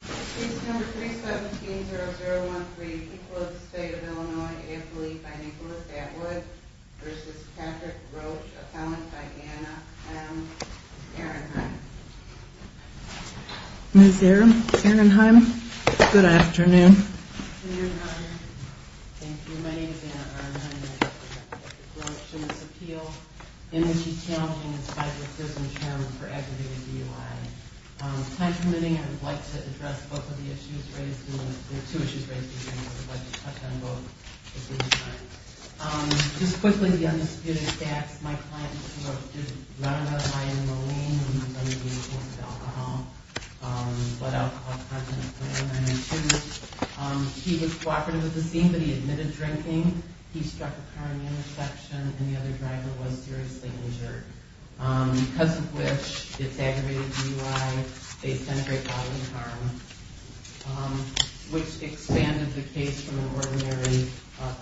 Case No. 317-0013, Equal of the State of Illinois, AFL-E by Nicholas Atwood v. Patrick Roche, Appellant by Anna M. Sarenheim Ms. Sarenheim, good afternoon. Good afternoon, Roger. Thank you. My name is Anna Sarenheim and I represent Patrick Roche in this appeal. In this challenging and special system term for aggravated DUI. Time permitting, I would like to address both of the issues raised. There are two issues raised, but I would like to touch on both at the same time. Just quickly, the undisputed facts. My client just ran out of iron in the lane when he was under the influence of alcohol. He was cooperative with the scene, but he admitted drinking, he struck a car in the intersection, and the other driver was seriously injured. Because of which, it's aggravated DUI, based on a great bodily harm, which expanded the case from an ordinary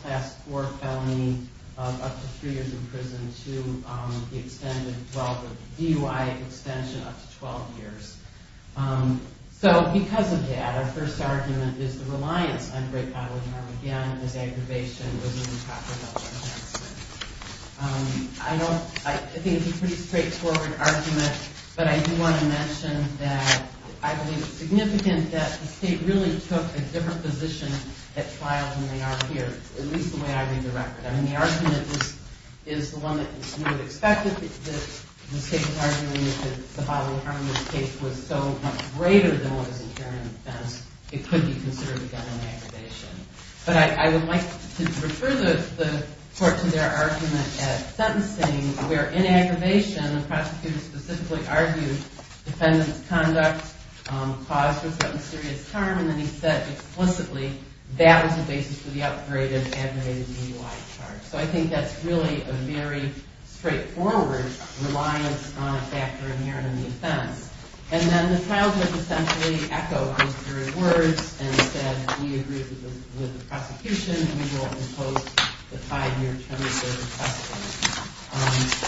class 4 felony of up to 3 years in prison to the extended DUI extension of up to 12 years. So because of that, our first argument is the reliance on great bodily harm. Again, this aggravation was an improper health enhancement. I think it's a pretty straightforward argument, but I do want to mention that I believe it's significant that the state really took a different position at trial than they are here. At least the way I read the record. I mean, the argument is the one that you would expect that the state was arguing, that the bodily harm in this case was so much greater than what was incurred in offense, it could be considered a gun inaggravation. But I would like to refer the Court to their argument at sentencing where, in aggravation, the prosecutor specifically argued that the defendant's conduct caused for some serious harm, and then he said explicitly, that was the basis for the upgrade of aggravated DUI charge. So I think that's really a very straightforward reliance on a factor inherent in the offense. And then the trial judge essentially echoed those very words and said, we agree with the prosecution. We will impose the five-year term of service precedent.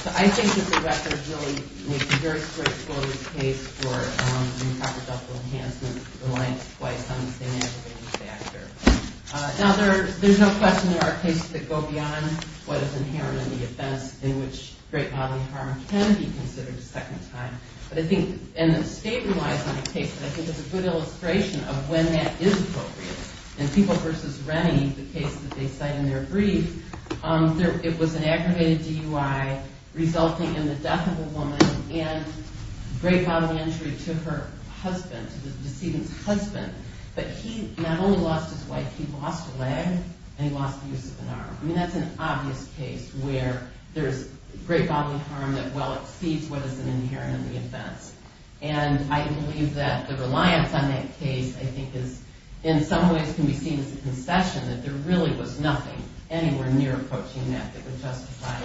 So I think that the record really makes a very straightforward case for improper health enhancement reliance twice on the same aggravated factor. Now, there's no question there are cases that go beyond what is inherent in the offense in which great bodily harm can be considered a second time. But I think, and the state relies on a case, but I think it's a good illustration of when that is appropriate. In People v. Rennie, the case that they cite in their brief, it was an aggravated DUI resulting in the death of a woman and great bodily injury to her husband, to the decedent's husband. But he not only lost his wife, he lost a leg and he lost the use of an arm. I mean, that's an obvious case where there's great bodily harm that well exceeds what is inherent in the offense. And I believe that the reliance on that case I think is in some ways can be seen as a concession that there really was nothing anywhere near approaching that that would justify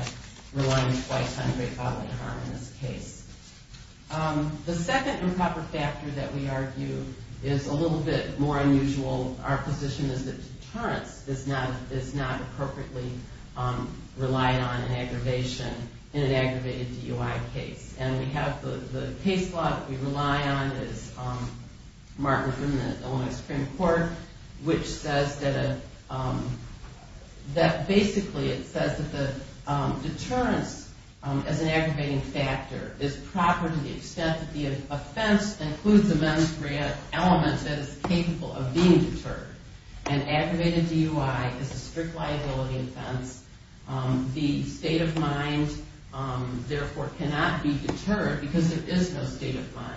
reliance twice on great bodily harm in this case. The second improper factor that we argue is a little bit more unusual. Our position is that deterrence is not appropriately relied on in an aggravated DUI case. And we have the case law that we rely on is marked within the Illinois Supreme Court, which says that basically it says that the deterrence as an aggravating factor is proper to the extent that the offense includes a menstrual element that is capable of being deterred. An aggravated DUI is a strict liability offense. The state of mind, therefore, cannot be deterred because there is no state of mind.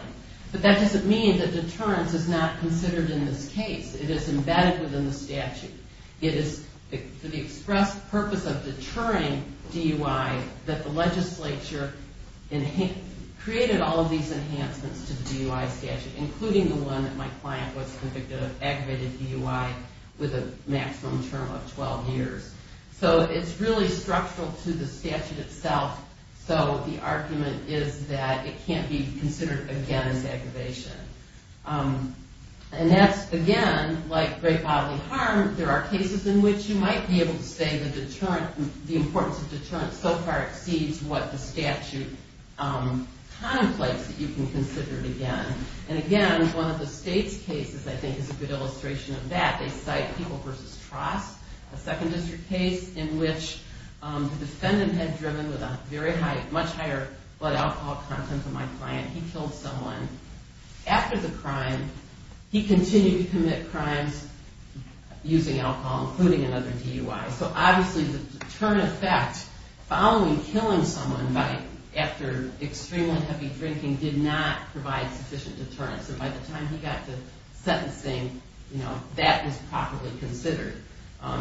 But that doesn't mean that deterrence is not considered in this case. It is embedded within the statute. It is for the express purpose of deterring DUI that the legislature created all of these enhancements to the DUI statute, including the one that my client was convicted of aggravated DUI with a maximum term of 12 years. So it's really structural to the statute itself. So the argument is that it can't be considered again as aggravation. And that's, again, like great bodily harm, there are cases in which you might be able to say the importance of deterrence so far exceeds what the statute contemplates that you can consider it again. And again, one of the state's cases, I think, is a good illustration of that. They cite People v. Trost, a second district case in which the defendant had driven with a much higher blood alcohol content than my client. He killed someone. After the crime, he continued to commit crimes using alcohol, including another DUI. So obviously the deterrent effect following killing someone after extremely heavy drinking did not provide sufficient deterrence. And by the time he got to sentencing, that was properly considered.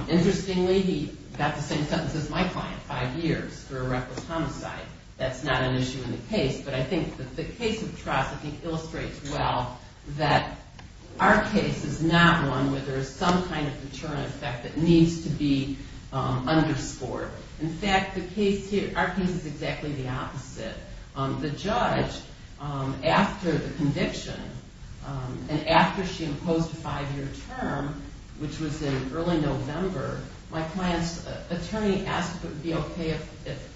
Interestingly, he got the same sentence as my client, five years, for a reckless homicide. That's not an issue in the case. But I think the case of Trost illustrates well that our case is not one where there is some kind of deterrent effect that needs to be underscored. In fact, our case is exactly the opposite. The judge, after the conviction and after she imposed a five-year term, which was in early November, my client's attorney asked if it would be okay if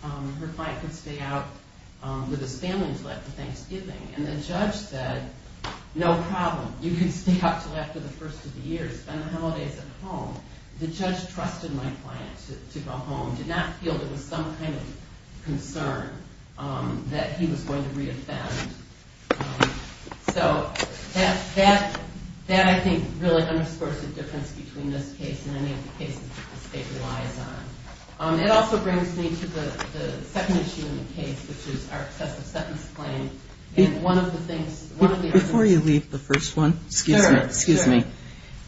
her client could stay out with his family until after Thanksgiving. And the judge said, no problem. You can stay out until after the first of the year. Spend the holidays at home. The judge trusted my client to go home, did not feel there was some kind of concern that he was going to reoffend. So that, I think, really underscores the difference between this case and any of the cases that the state relies on. It also brings me to the second issue in the case, which is our excessive sentence claim. Before you leave the first one, excuse me,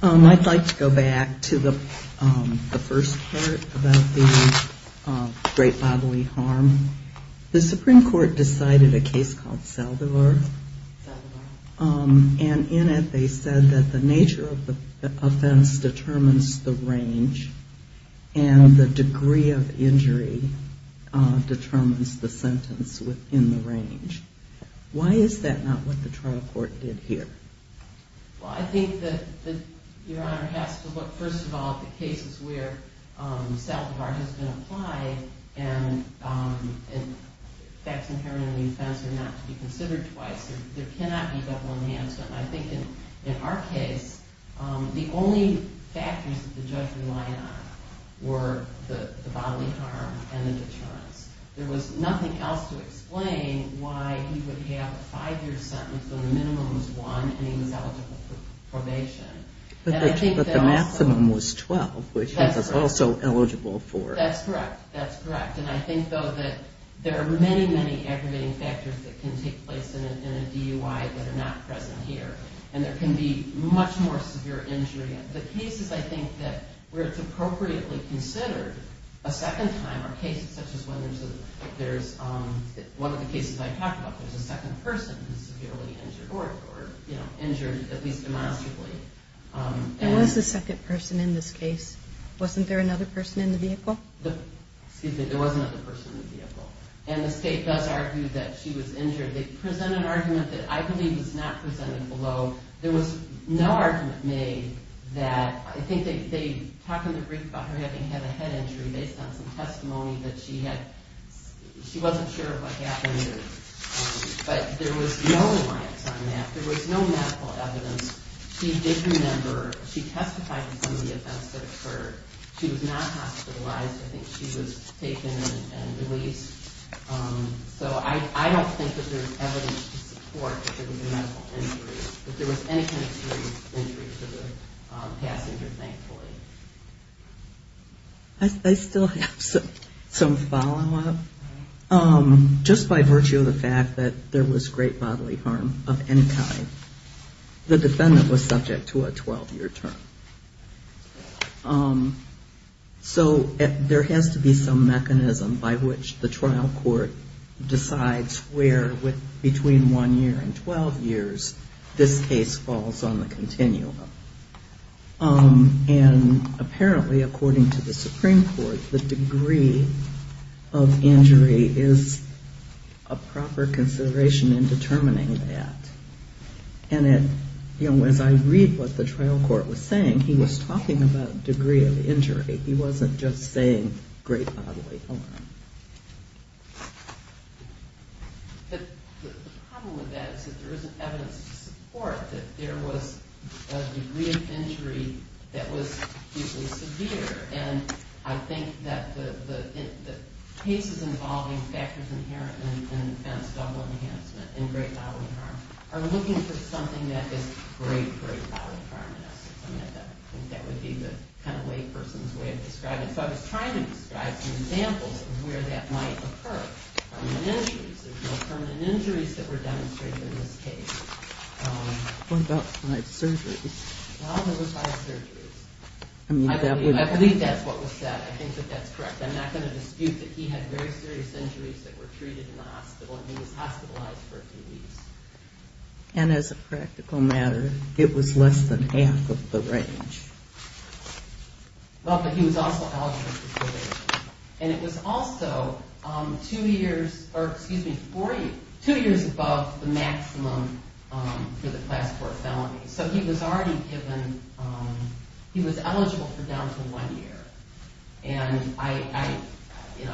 I'd like to go back to the first part about the great bodily harm. The Supreme Court decided a case called Saldivar. And in it, they said that the nature of the offense determines the range, and the degree of injury determines the sentence within the range. Why is that not what the trial court did here? Well, I think that Your Honor has to look, first of all, at the cases where Saldivar has been applied, and facts inherently offensive are not to be considered twice. There cannot be double enhancement. And I think in our case, the only factors that the judge relied on were the bodily harm and the deterrence. There was nothing else to explain why he would have a five-year sentence when the minimum was one and he was eligible for probation. But the maximum was 12, which he was also eligible for. That's correct. That's correct. And I think, though, that there are many, many aggravating factors that can take place in a DUI that are not present here. And there can be much more severe injury. The cases, I think, that where it's appropriately considered a second time are cases such as when there's a – one of the cases I talked about, there's a second person who's severely injured or, you know, injured at least demonstrably. There was a second person in this case. Wasn't there another person in the vehicle? Excuse me. There was another person in the vehicle. And the state does argue that she was injured. They present an argument that I believe was not presented below. There was no argument made that – I think they talk in the brief about her having had a head injury based on some testimony that she had – she wasn't sure what happened, but there was no reliance on that. There was no medical evidence. She did remember – she testified to some of the events that occurred. She was not hospitalized. I think she was taken and released. So I don't think that there's evidence to support that there was a medical injury, that there was any kind of serious injury to the passenger, thankfully. I still have some follow-up. Just by virtue of the fact that there was great bodily harm of any kind, the defendant was subject to a 12-year term. So there has to be some mechanism by which the trial court decides where, between one year and 12 years, this case falls on the continuum. And apparently, according to the Supreme Court, the degree of injury is a proper consideration in determining that. And as I read what the trial court was saying, he was talking about degree of injury. He wasn't just saying great bodily harm. But the problem with that is that there isn't evidence to support that there was a degree of injury that was hugely severe. And I think that the cases involving factors inherent in offense double enhancement and great bodily harm are looking for something that is great, great bodily harm. I think that would be the kind of layperson's way of describing it. And so I was trying to describe some examples of where that might occur, permanent injuries. There's no permanent injuries that were demonstrated in this case. What about five surgeries? Well, there were five surgeries. I believe that's what was said. I think that that's correct. I'm not going to dispute that he had very serious injuries that were treated in the hospital, and he was hospitalized for a few weeks. And as a practical matter, it was less than half of the range. Well, but he was also eligible for probation. And it was also two years above the maximum for the class four felony. So he was already given – he was eligible for down to one year. And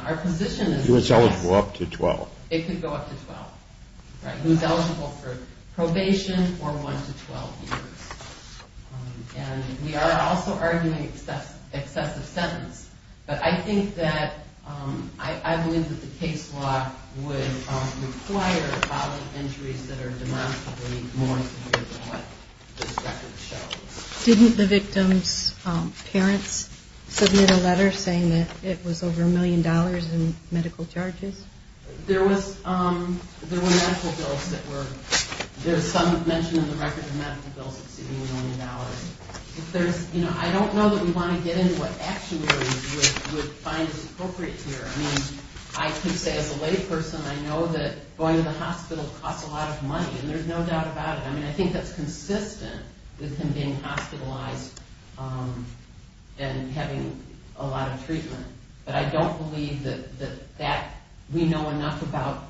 our position is – He was eligible up to 12. It could go up to 12. Right. He was eligible for probation or one to 12 years. And we are also arguing excessive sentence. But I think that – I believe that the case law would require bodily injuries that are demonstrably more severe than what this record shows. Didn't the victim's parents submit a letter saying that it was over a million dollars in medical charges? There was – there were medical bills that were – there's some mention in the record of medical bills exceeding a million dollars. If there's – you know, I don't know that we want to get into what actionaries would find is appropriate here. I mean, I can say as a lay person, I know that going to the hospital costs a lot of money, and there's no doubt about it. I mean, I think that's consistent with him being hospitalized and having a lot of treatment. But I don't believe that that – we know enough about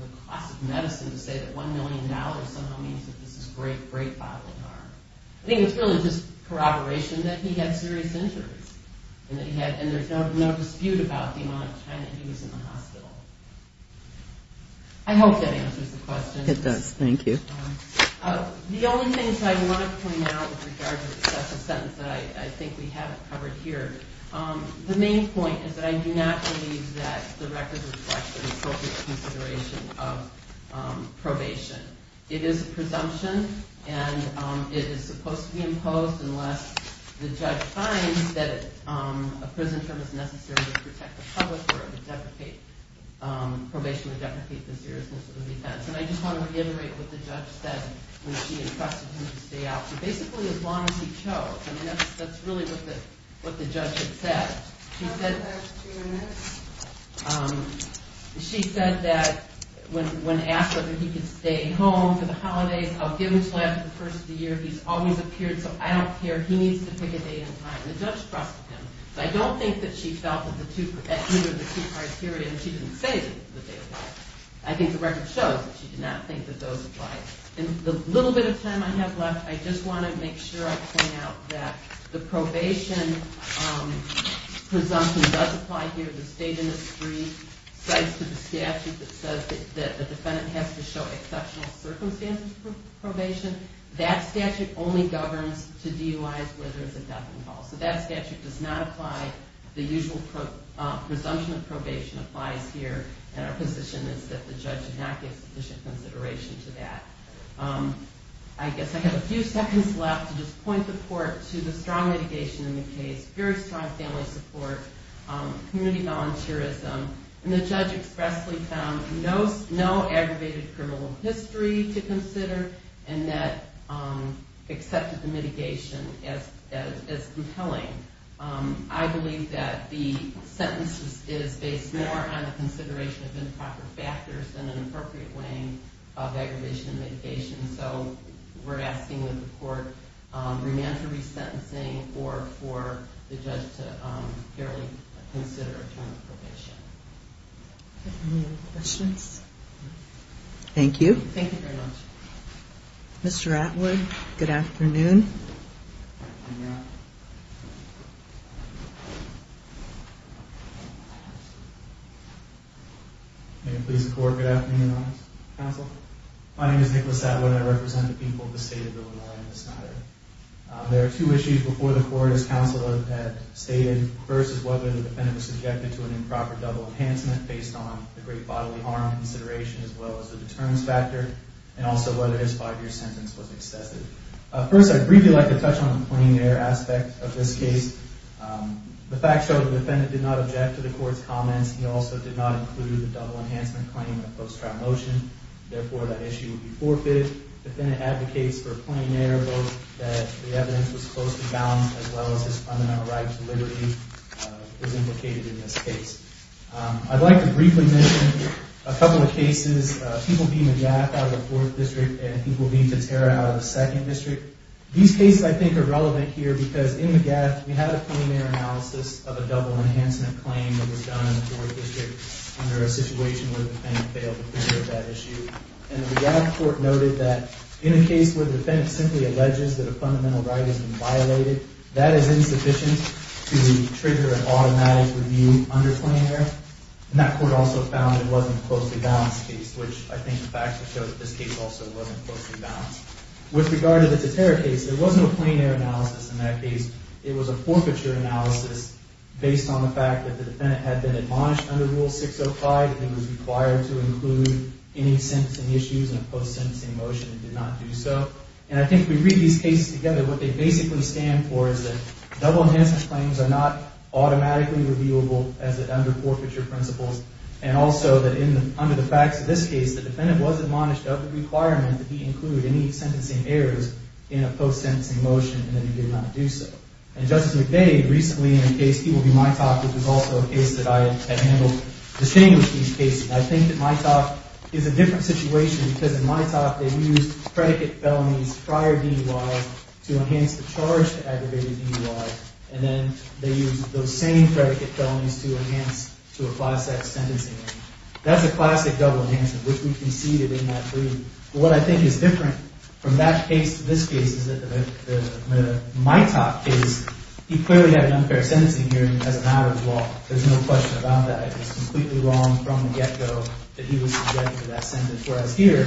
the cost of medicine to say that one million dollars somehow means that this is great, great bodily harm. I think it's really just corroboration that he had serious injuries. And that he had – and there's no dispute about the amount of time that he was in the hospital. I hope that answers the question. It does. Thank you. The only thing that I want to point out with regard to the special sentence that I think we haven't covered here, the main point is that I do not believe that the record reflects an appropriate consideration of probation. It is a presumption, and it is supposed to be imposed unless the judge finds that a prison term is necessary to protect the public or to deprecate – probation would deprecate the seriousness of the defense. And I just want to reiterate what the judge said when she entrusted him to stay out for basically as long as he chose. I mean, that's really what the judge had said. She said – she said that when asked whether he could stay home for the holidays, I'll give him until after the first of the year. He's always appeared, so I don't care. He needs to pick a date and time. The judge trusted him, but I don't think that she felt that either of the two criteria – I think the record shows that she did not think that those applied. In the little bit of time I have left, I just want to make sure I point out that the probation presumption does apply here. The state industry cites the statute that says that the defendant has to show exceptional circumstances for probation. That statute only governs to DUIs whether there's a death involved. So that statute does not apply. The usual presumption of probation applies here, and our position is that the judge did not give sufficient consideration to that. I guess I have a few seconds left to just point the court to the strong litigation in the case, very strong family support, community volunteerism. The judge expressly found no aggravated criminal history to consider, and that accepted the mitigation as compelling. I believe that the sentence is based more on the consideration of improper factors than an appropriate weighing of aggravation and mitigation. So we're asking that the court remand her re-sentencing or for the judge to fairly consider a term of probation. Any other questions? Thank you. Thank you very much. Mr. Atwood, good afternoon. May it please the Court, good afternoon, Your Honor. Counsel. My name is Nicholas Atwood. I represent the people of the state of Illinois in this matter. There are two issues before the court, as counsel had stated. First is whether the defendant was subjected to an improper double enhancement based on the great bodily harm consideration as well as the deterrence factor, and also whether his five-year sentence was excessive. First, I'd briefly like to touch on the plein air aspect of this case. The facts show the defendant did not object to the court's comments. He also did not include the double enhancement claim in the post-trial motion. Therefore, that issue would be forfeited. The defendant advocates for plein air, both that the evidence was closely balanced as well as his fundamental right to liberty is implicated in this case. I'd like to briefly mention a couple of cases. He will be McGath out of the 4th District, and he will be Gutierrez out of the 2nd District. These cases, I think, are relevant here because in McGath, we had a plein air analysis of a double enhancement claim that was done in the 4th District under a situation where the defendant failed to consider that issue. And the McGath court noted that in a case where the defendant simply alleges that a fundamental right has been violated, that is insufficient to trigger an automatic review under plein air. And that court also found it wasn't a closely balanced case, which I think the facts have shown that this case also wasn't closely balanced. With regard to the Teterra case, there was no plein air analysis in that case. It was a forfeiture analysis based on the fact that the defendant had been admonished under Rule 605 and was required to include any sentencing issues in a post-sentencing motion and did not do so. And I think if we read these cases together, what they basically stand for is that double enhancement claims are not automatically reviewable as under forfeiture principles, and also that under the facts of this case, the defendant was admonished of the requirement that he include any sentencing errors in a post-sentencing motion, and then he did not do so. And Justice McVeigh, recently in a case, he will be Mitoch, which is also a case that I have handled, distinguished these cases. I think that Mitoch is a different situation because in Mitoch, they used predicate felonies prior DUI to enhance the charge to aggravated DUI, and then they used those same predicate felonies to enhance to apply that sentencing error. That's a classic double enhancement, which we conceded in that plea. But what I think is different from that case to this case is that the Mitoch case, he clearly had an unfair sentencing hearing as a matter of law. There's no question about that. It was completely wrong from the get-go that he was subjected to that sentence, whereas here,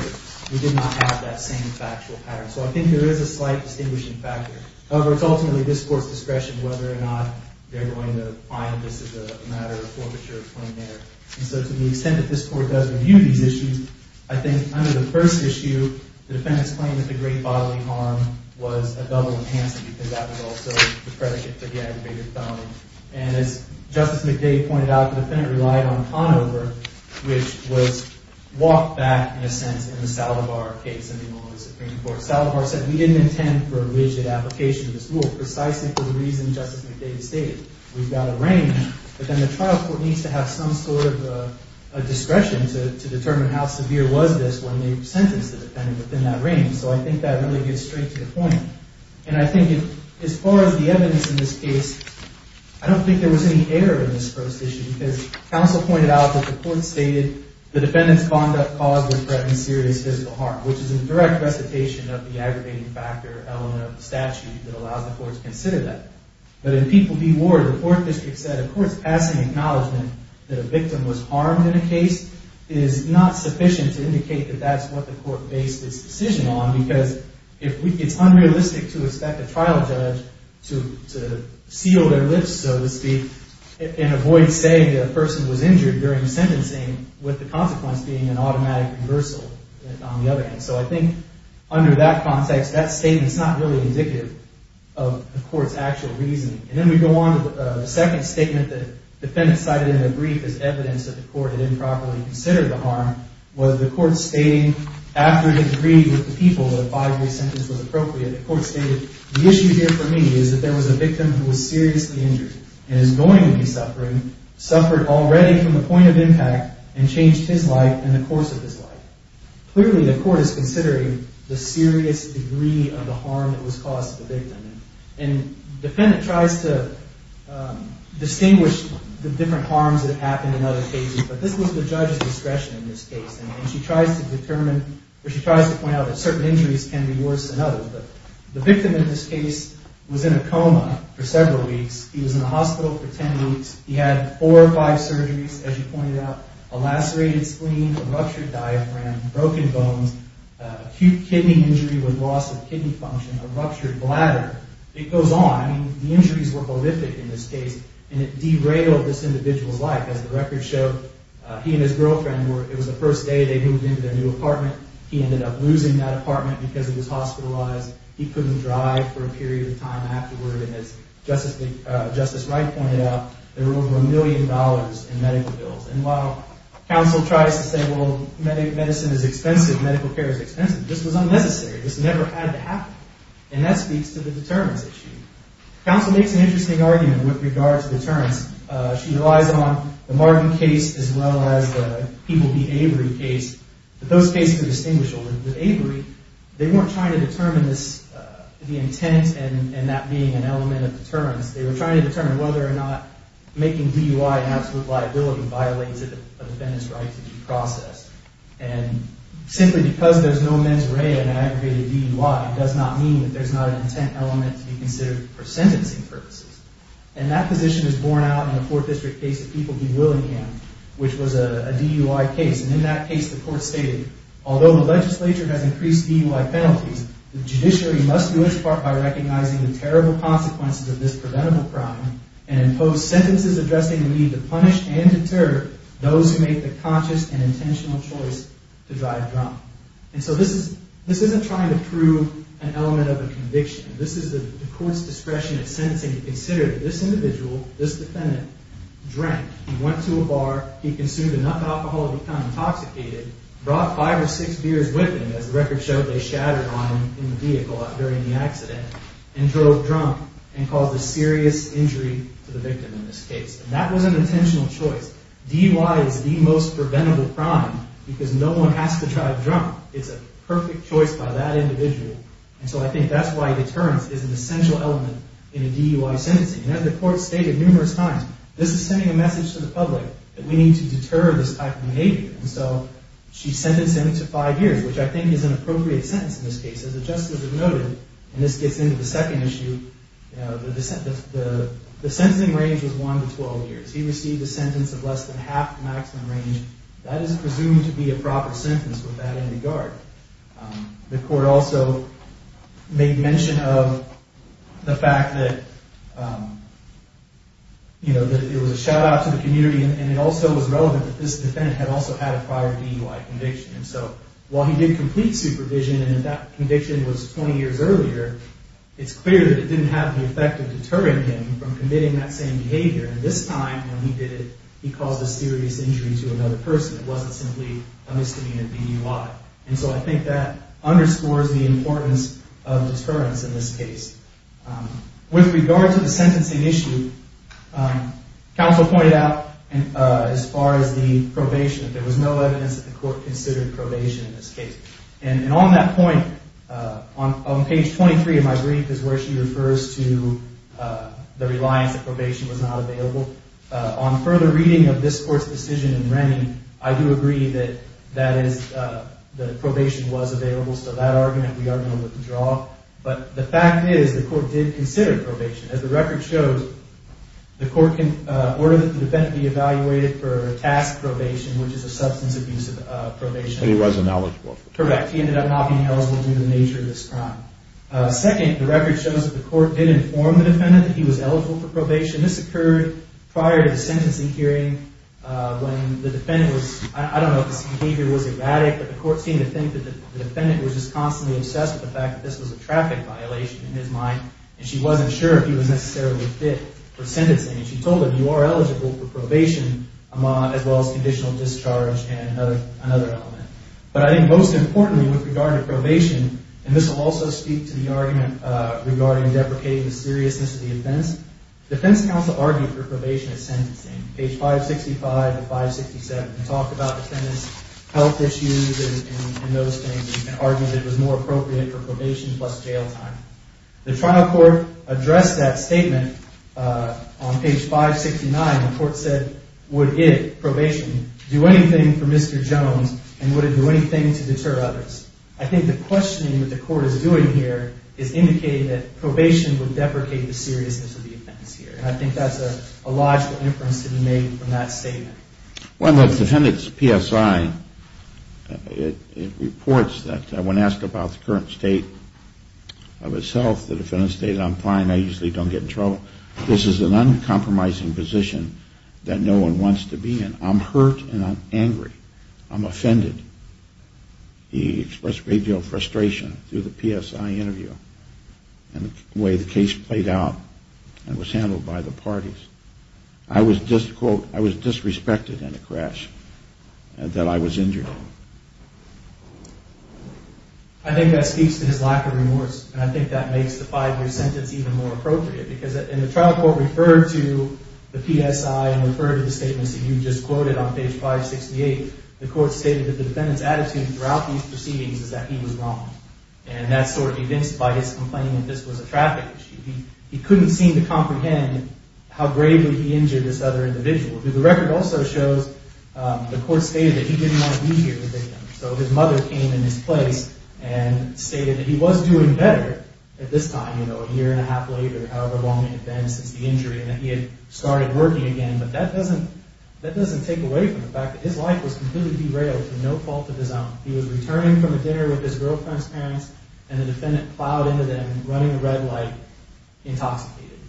we did not have that same factual pattern. So I think there is a slight distinguishing factor. However, it's ultimately this Court's discretion whether or not they're going to find this is a matter of forfeiture from there. And so to the extent that this Court does review these issues, I think under the first issue, the defendant's claim that the great bodily harm was a double enhancement because that was also the predicate to the aggravated felony. And as Justice McDade pointed out, the defendant relied on Conover, which was walked back, in a sense, in the Saldivar case in the Illinois Supreme Court. Saldivar said, we didn't intend for a rigid application of this rule precisely for the reason Justice McDade stated. We've got a range, but then the trial court needs to have some sort of a discretion to determine how severe was this when they sentenced the defendant within that range. So I think that really gets straight to the point. And I think as far as the evidence in this case, I don't think there was any error in this first issue because counsel pointed out that the Court stated the defendant's conduct caused or threatened serious physical harm, which is in the direct recitation of the aggravating factor element of the statute that allows the Court to consider that. But in People v. Ward, the court district said a court's passing acknowledgement that a victim was harmed in a case is not sufficient to indicate that that's what the court based its decision on because it's unrealistic to expect a trial judge to seal their lips, so to speak, and avoid saying that a person was injured during sentencing, with the consequence being an automatic reversal on the other hand. So I think under that context, that statement's not really indicative of the court's actual reasoning. And then we go on to the second statement that the defendant cited in the brief as evidence that the court had improperly considered the harm was the court stating after it agreed with the People that a five-day sentence was appropriate, the court stated, the issue here for me is that there was a victim who was seriously injured and is going to be suffering, suffered already from the point of impact, and changed his life in the course of his life. Clearly, the court is considering the serious degree of the harm that was caused to the victim. And the defendant tries to distinguish the different harms that happened in other cases, but this was the judge's discretion in this case, and she tries to determine, or she tries to point out that certain injuries can be worse than others. But the victim in this case was in a coma for several weeks. He was in the hospital for 10 weeks. He had four or five surgeries, as you pointed out, a lacerated spleen, a ruptured diaphragm, broken bones, acute kidney injury with loss of kidney function, a ruptured bladder. It goes on. I mean, the injuries were horrific in this case, and it derailed this individual's life. As the records show, he and his girlfriend were, it was the first day they moved into their new apartment. He ended up losing that apartment because he was hospitalized. He couldn't drive for a period of time afterward. And as Justice Wright pointed out, there were over a million dollars in medical bills. And while counsel tries to say, well, medicine is expensive, medical care is expensive, this was unnecessary. This never had to happen. And that speaks to the deterrence issue. Counsel makes an interesting argument with regard to deterrence. She relies on the Marvin case as well as the People v. Avery case. But those cases are distinguishable. With Avery, they weren't trying to determine the intent and that being an element of deterrence. They were trying to determine whether or not making DUI an absolute liability violates a defendant's right to be processed. And simply because there's no mens rea in an aggregated DUI does not mean that there's not an intent element to be considered for sentencing purposes. And that position is borne out in the Fourth District case of People v. Willingham, which was a DUI case. And in that case, the court stated, although the legislature has increased DUI penalties, the judiciary must do its part by recognizing the terrible consequences of this preventable crime and impose sentences addressing the need to punish and deter those who make the conscious and intentional choice to drive drunk. And so this isn't trying to prove an element of a conviction. This is the court's discretion in sentencing to consider that this individual, this defendant, drank. He went to a bar, he consumed enough alcohol to become intoxicated, brought five or six beers with him, as the record showed they shattered on him in the vehicle during the accident, and drove drunk and caused a serious injury to the victim in this case. And that was an intentional choice. DUI is the most preventable crime because no one has to drive drunk. It's a perfect choice by that individual. And so I think that's why deterrence is an essential element in a DUI sentencing. And as the court stated numerous times, this is sending a message to the public that we need to deter this type of behavior. And so she sentenced him to five years, which I think is an appropriate sentence in this case. As the justices have noted, and this gets into the second issue, the sentencing range was one to 12 years. He received a sentence of less than half the maximum range. That is presumed to be a proper sentence with that in regard. The court also made mention of the fact that it was a shout-out to the community, and it also was relevant that this defendant had also had a prior DUI conviction. And so while he did complete supervision and that conviction was 20 years earlier, it's clear that it didn't have the effect of deterring him from committing that same behavior. And this time when he did it, he caused a serious injury to another person. It wasn't simply a misdemeanor DUI. And so I think that underscores the importance of deterrence in this case. With regard to the sentencing issue, counsel pointed out as far as the probation, that there was no evidence that the court considered probation in this case. And on that point, on page 23 of my brief is where she refers to the reliance that probation was not available. On further reading of this court's decision in Rennie, I do agree that the probation was available. So that argument we are going to withdraw. But the fact is the court did consider probation. As the record shows, the court ordered that the defendant be evaluated for task probation, which is a substance abuse probation. But he was ineligible. Correct. He ended up not being eligible due to the nature of this crime. Second, the record shows that the court did inform the defendant that he was eligible for probation. This occurred prior to the sentencing hearing when the defendant was, I don't know if this behavior was erratic, but the court seemed to think that the defendant was just constantly obsessed with the fact that this was a traffic violation in his mind. And she wasn't sure if he was necessarily fit for sentencing. And she told him, you are eligible for probation as well as conditional discharge and another element. But I think most importantly with regard to probation, and this will also speak to the argument regarding deprecating the seriousness of the offense, the defense counsel argued for probation at sentencing, page 565 to 567. They talked about the defendant's health issues and those things and argued it was more appropriate for probation plus jail time. The trial court addressed that statement on page 569. The court said, would it, probation, do anything for Mr. Jones and would it do anything to deter others? I think the questioning that the court is doing here is indicating that probation would deprecate the seriousness of the offense here. And I think that's a logical inference to be made from that statement. Well, the defendant's PSI, it reports that when asked about the current state of his health, the defendant stated, I'm fine, I usually don't get in trouble. This is an uncompromising position that no one wants to be in. I'm hurt and I'm angry. I'm offended. He expressed a great deal of frustration through the PSI interview and the way the case played out and was handled by the parties. I was disrespected in the crash that I was injured. I think that speaks to his lack of remorse. And I think that makes the five-year sentence even more appropriate because in the trial court referred to the PSI and referred to the statements that you just quoted on page 568, the court stated that the defendant's attitude throughout these proceedings is that he was wrong. And that's sort of evinced by his complaining that this was a traffic issue. He couldn't seem to comprehend how gravely he injured this other individual. The record also shows the court stated that he didn't want to be here with him. So his mother came in his place and stated that he was doing better at this time, a year and a half later, however long it had been since the injury, and that he had started working again. But that doesn't take away from the fact that his life was completely derailed for no fault of his own. He was returning from a dinner with his girlfriend's parents, and the defendant plowed into them, running a red light, intoxicated.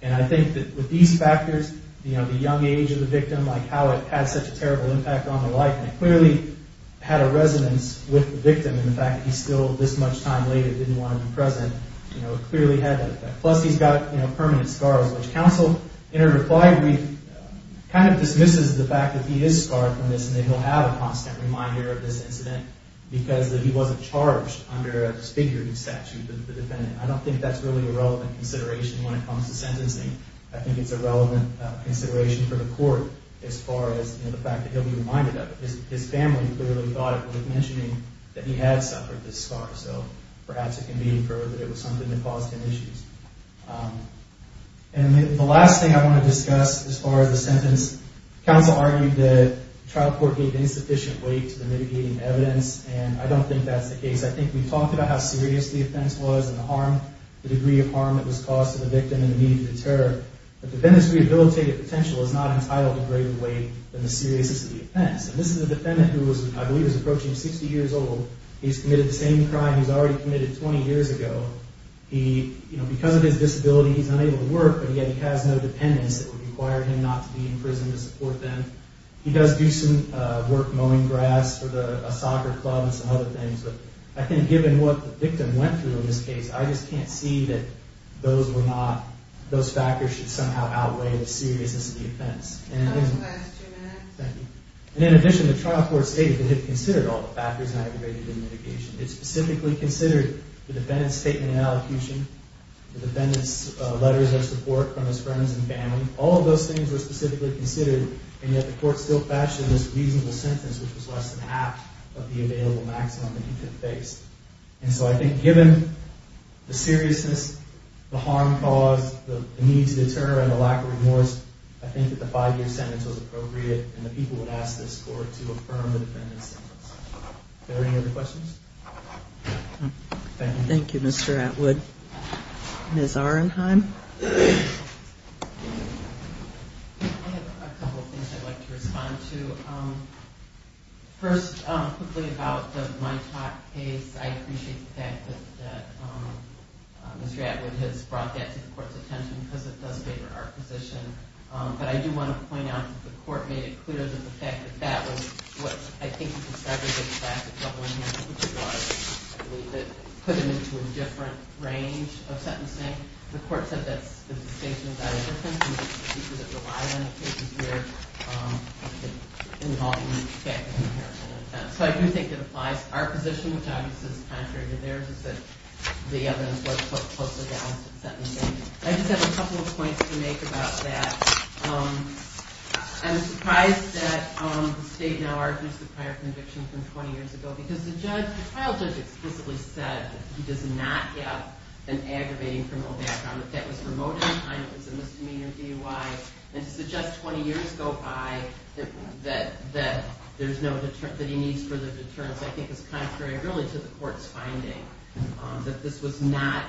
And I think that with these factors, the young age of the victim, how it had such a terrible impact on the life, it clearly had a resonance with the victim in the fact that he still, this much time later, didn't want to be present. It clearly had that effect. Plus, he's got permanent scars, which counsel, in a reply brief, kind of dismisses the fact that he is scarred from this, and that he'll have a constant reminder of this incident because he wasn't charged under a disfigured statute with the defendant. I don't think that's really a relevant consideration when it comes to sentencing. I think it's a relevant consideration for the court as far as the fact that he'll be reminded of it. So perhaps it can be inferred that it was something that caused him issues. And the last thing I want to discuss as far as the sentence, counsel argued that the trial court gave insufficient weight to the mitigating evidence, and I don't think that's the case. I think we talked about how serious the offense was and the harm, the degree of harm that was caused to the victim and the need to deter. The defendant's rehabilitative potential is not entitled to greater weight than the seriousness of the offense. And this is a defendant who I believe is approaching 60 years old. He's committed the same crime he's already committed 20 years ago. Because of his disability, he's unable to work, but yet he has no dependents that would require him not to be in prison to support them. He does do some work mowing grass for a soccer club and some other things, but I think given what the victim went through in this case, I just can't see that those factors should somehow outweigh the seriousness of the offense. That was the last two minutes. Thank you. And in addition, the trial court stated it had considered all the factors and aggravated the mitigation. It specifically considered the defendant's statement in elocution, the defendant's letters of support from his friends and family. All of those things were specifically considered, and yet the court still fashioned this reasonable sentence, which was less than half of the available maximum that he could face. And so I think given the seriousness, the harm caused, the need to deter, and the lack of remorse, I think that the five-year sentence was appropriate, and the people would ask this court to affirm the defendant's sentence. Are there any other questions? Thank you. Thank you, Mr. Atwood. Ms. Ahrenheim? I have a couple of things I'd like to respond to. First, quickly about the Mitoc case, because it does favor our position. But I do want to point out that the court made it clear that the fact that that was what I think you described as a class of trouble enhancer, which it was, I believe, that put him into a different range of sentencing. The court said that's the case without a difference, and the speakers that rely on the case here have been involved in that comparison. So I do think it applies to our position, which obviously is contrary to theirs, is that the evidence was closely balanced in sentencing. I just have a couple of points to make about that. I'm surprised that the state now argues the prior conviction from 20 years ago, because the trial judge explicitly said that he does not have an aggravating criminal background, that that was remote in time, it was a misdemeanor DUI, and to suggest 20 years go by that he needs further deterrence I think is contrary really to the court's finding, that this was not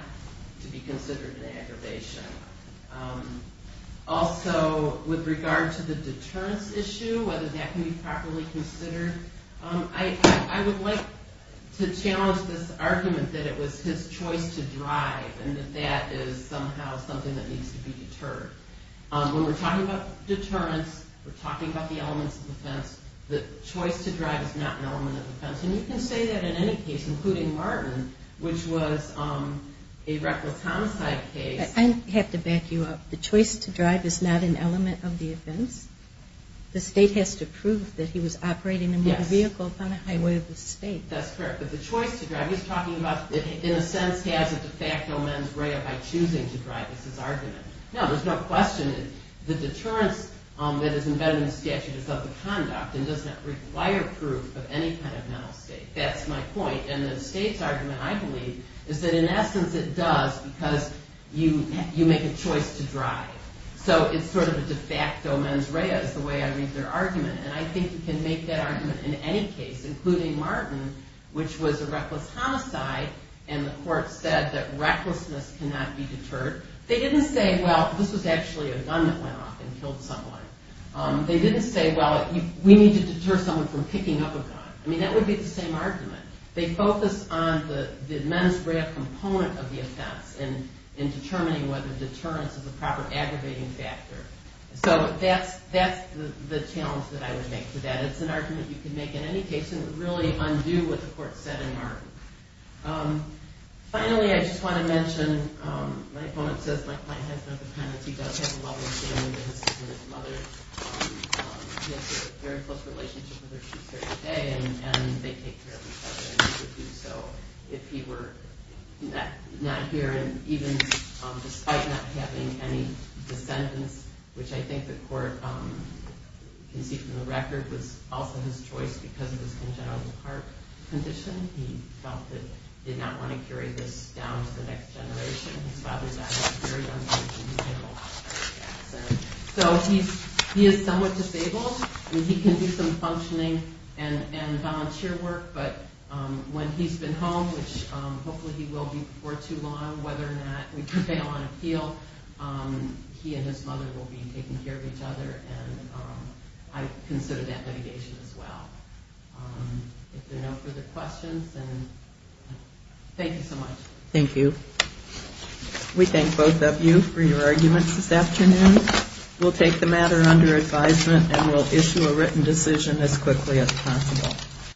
to be considered an aggravation. Also, with regard to the deterrence issue, whether that can be properly considered, I would like to challenge this argument that it was his choice to drive and that that is somehow something that needs to be deterred. When we're talking about deterrence, we're talking about the elements of defense, the choice to drive is not an element of defense. And you can say that in any case, including Martin, which was a reckless homicide case. I have to back you up. The choice to drive is not an element of the offense. The state has to prove that he was operating a motor vehicle upon a highway of the state. That's correct. But the choice to drive, he's talking about, in a sense, has a de facto mens rea by choosing to drive is his argument. No, there's no question that the deterrence that is embedded in the statute is of the conduct and does not require proof of any kind of mental state. That's my point. And the state's argument, I believe, is that in essence it does because you make a choice to drive. So it's sort of a de facto mens rea is the way I read their argument. And I think you can make that argument in any case, including Martin, which was a reckless homicide and the court said that recklessness cannot be deterred. They didn't say, well, this was actually a gun that went off and killed someone. They didn't say, well, we need to deter someone from picking up a gun. I mean, that would be the same argument. They focused on the mens rea component of the offense in determining whether deterrence is a proper aggravating factor. So that's the challenge that I would make to that. It's an argument you can make in any case and it would really undo what the court said in Martin. Finally, I just want to mention, my opponent says my client has no dependency. He does have a love of family business and his mother has a very close relationship with her two-thirds of the day and they take care of each other and he would do so if he were not here. And even despite not having any descendants, which I think the court can see from the record, was also his choice because of his congenital heart condition. He felt that he did not want to carry this down to the next generation. His father died at a very young age. So he is somewhat disabled and he can do some functioning and volunteer work, but when he's been home, which hopefully he will be for too long, whether or not we prevail on appeal, he and his mother will be taking care of each other and I consider that litigation as well. If there are no further questions, then thank you so much. Thank you. We thank both of you for your arguments this afternoon. We'll take the matter under advisement and we'll issue a written decision as quickly as possible.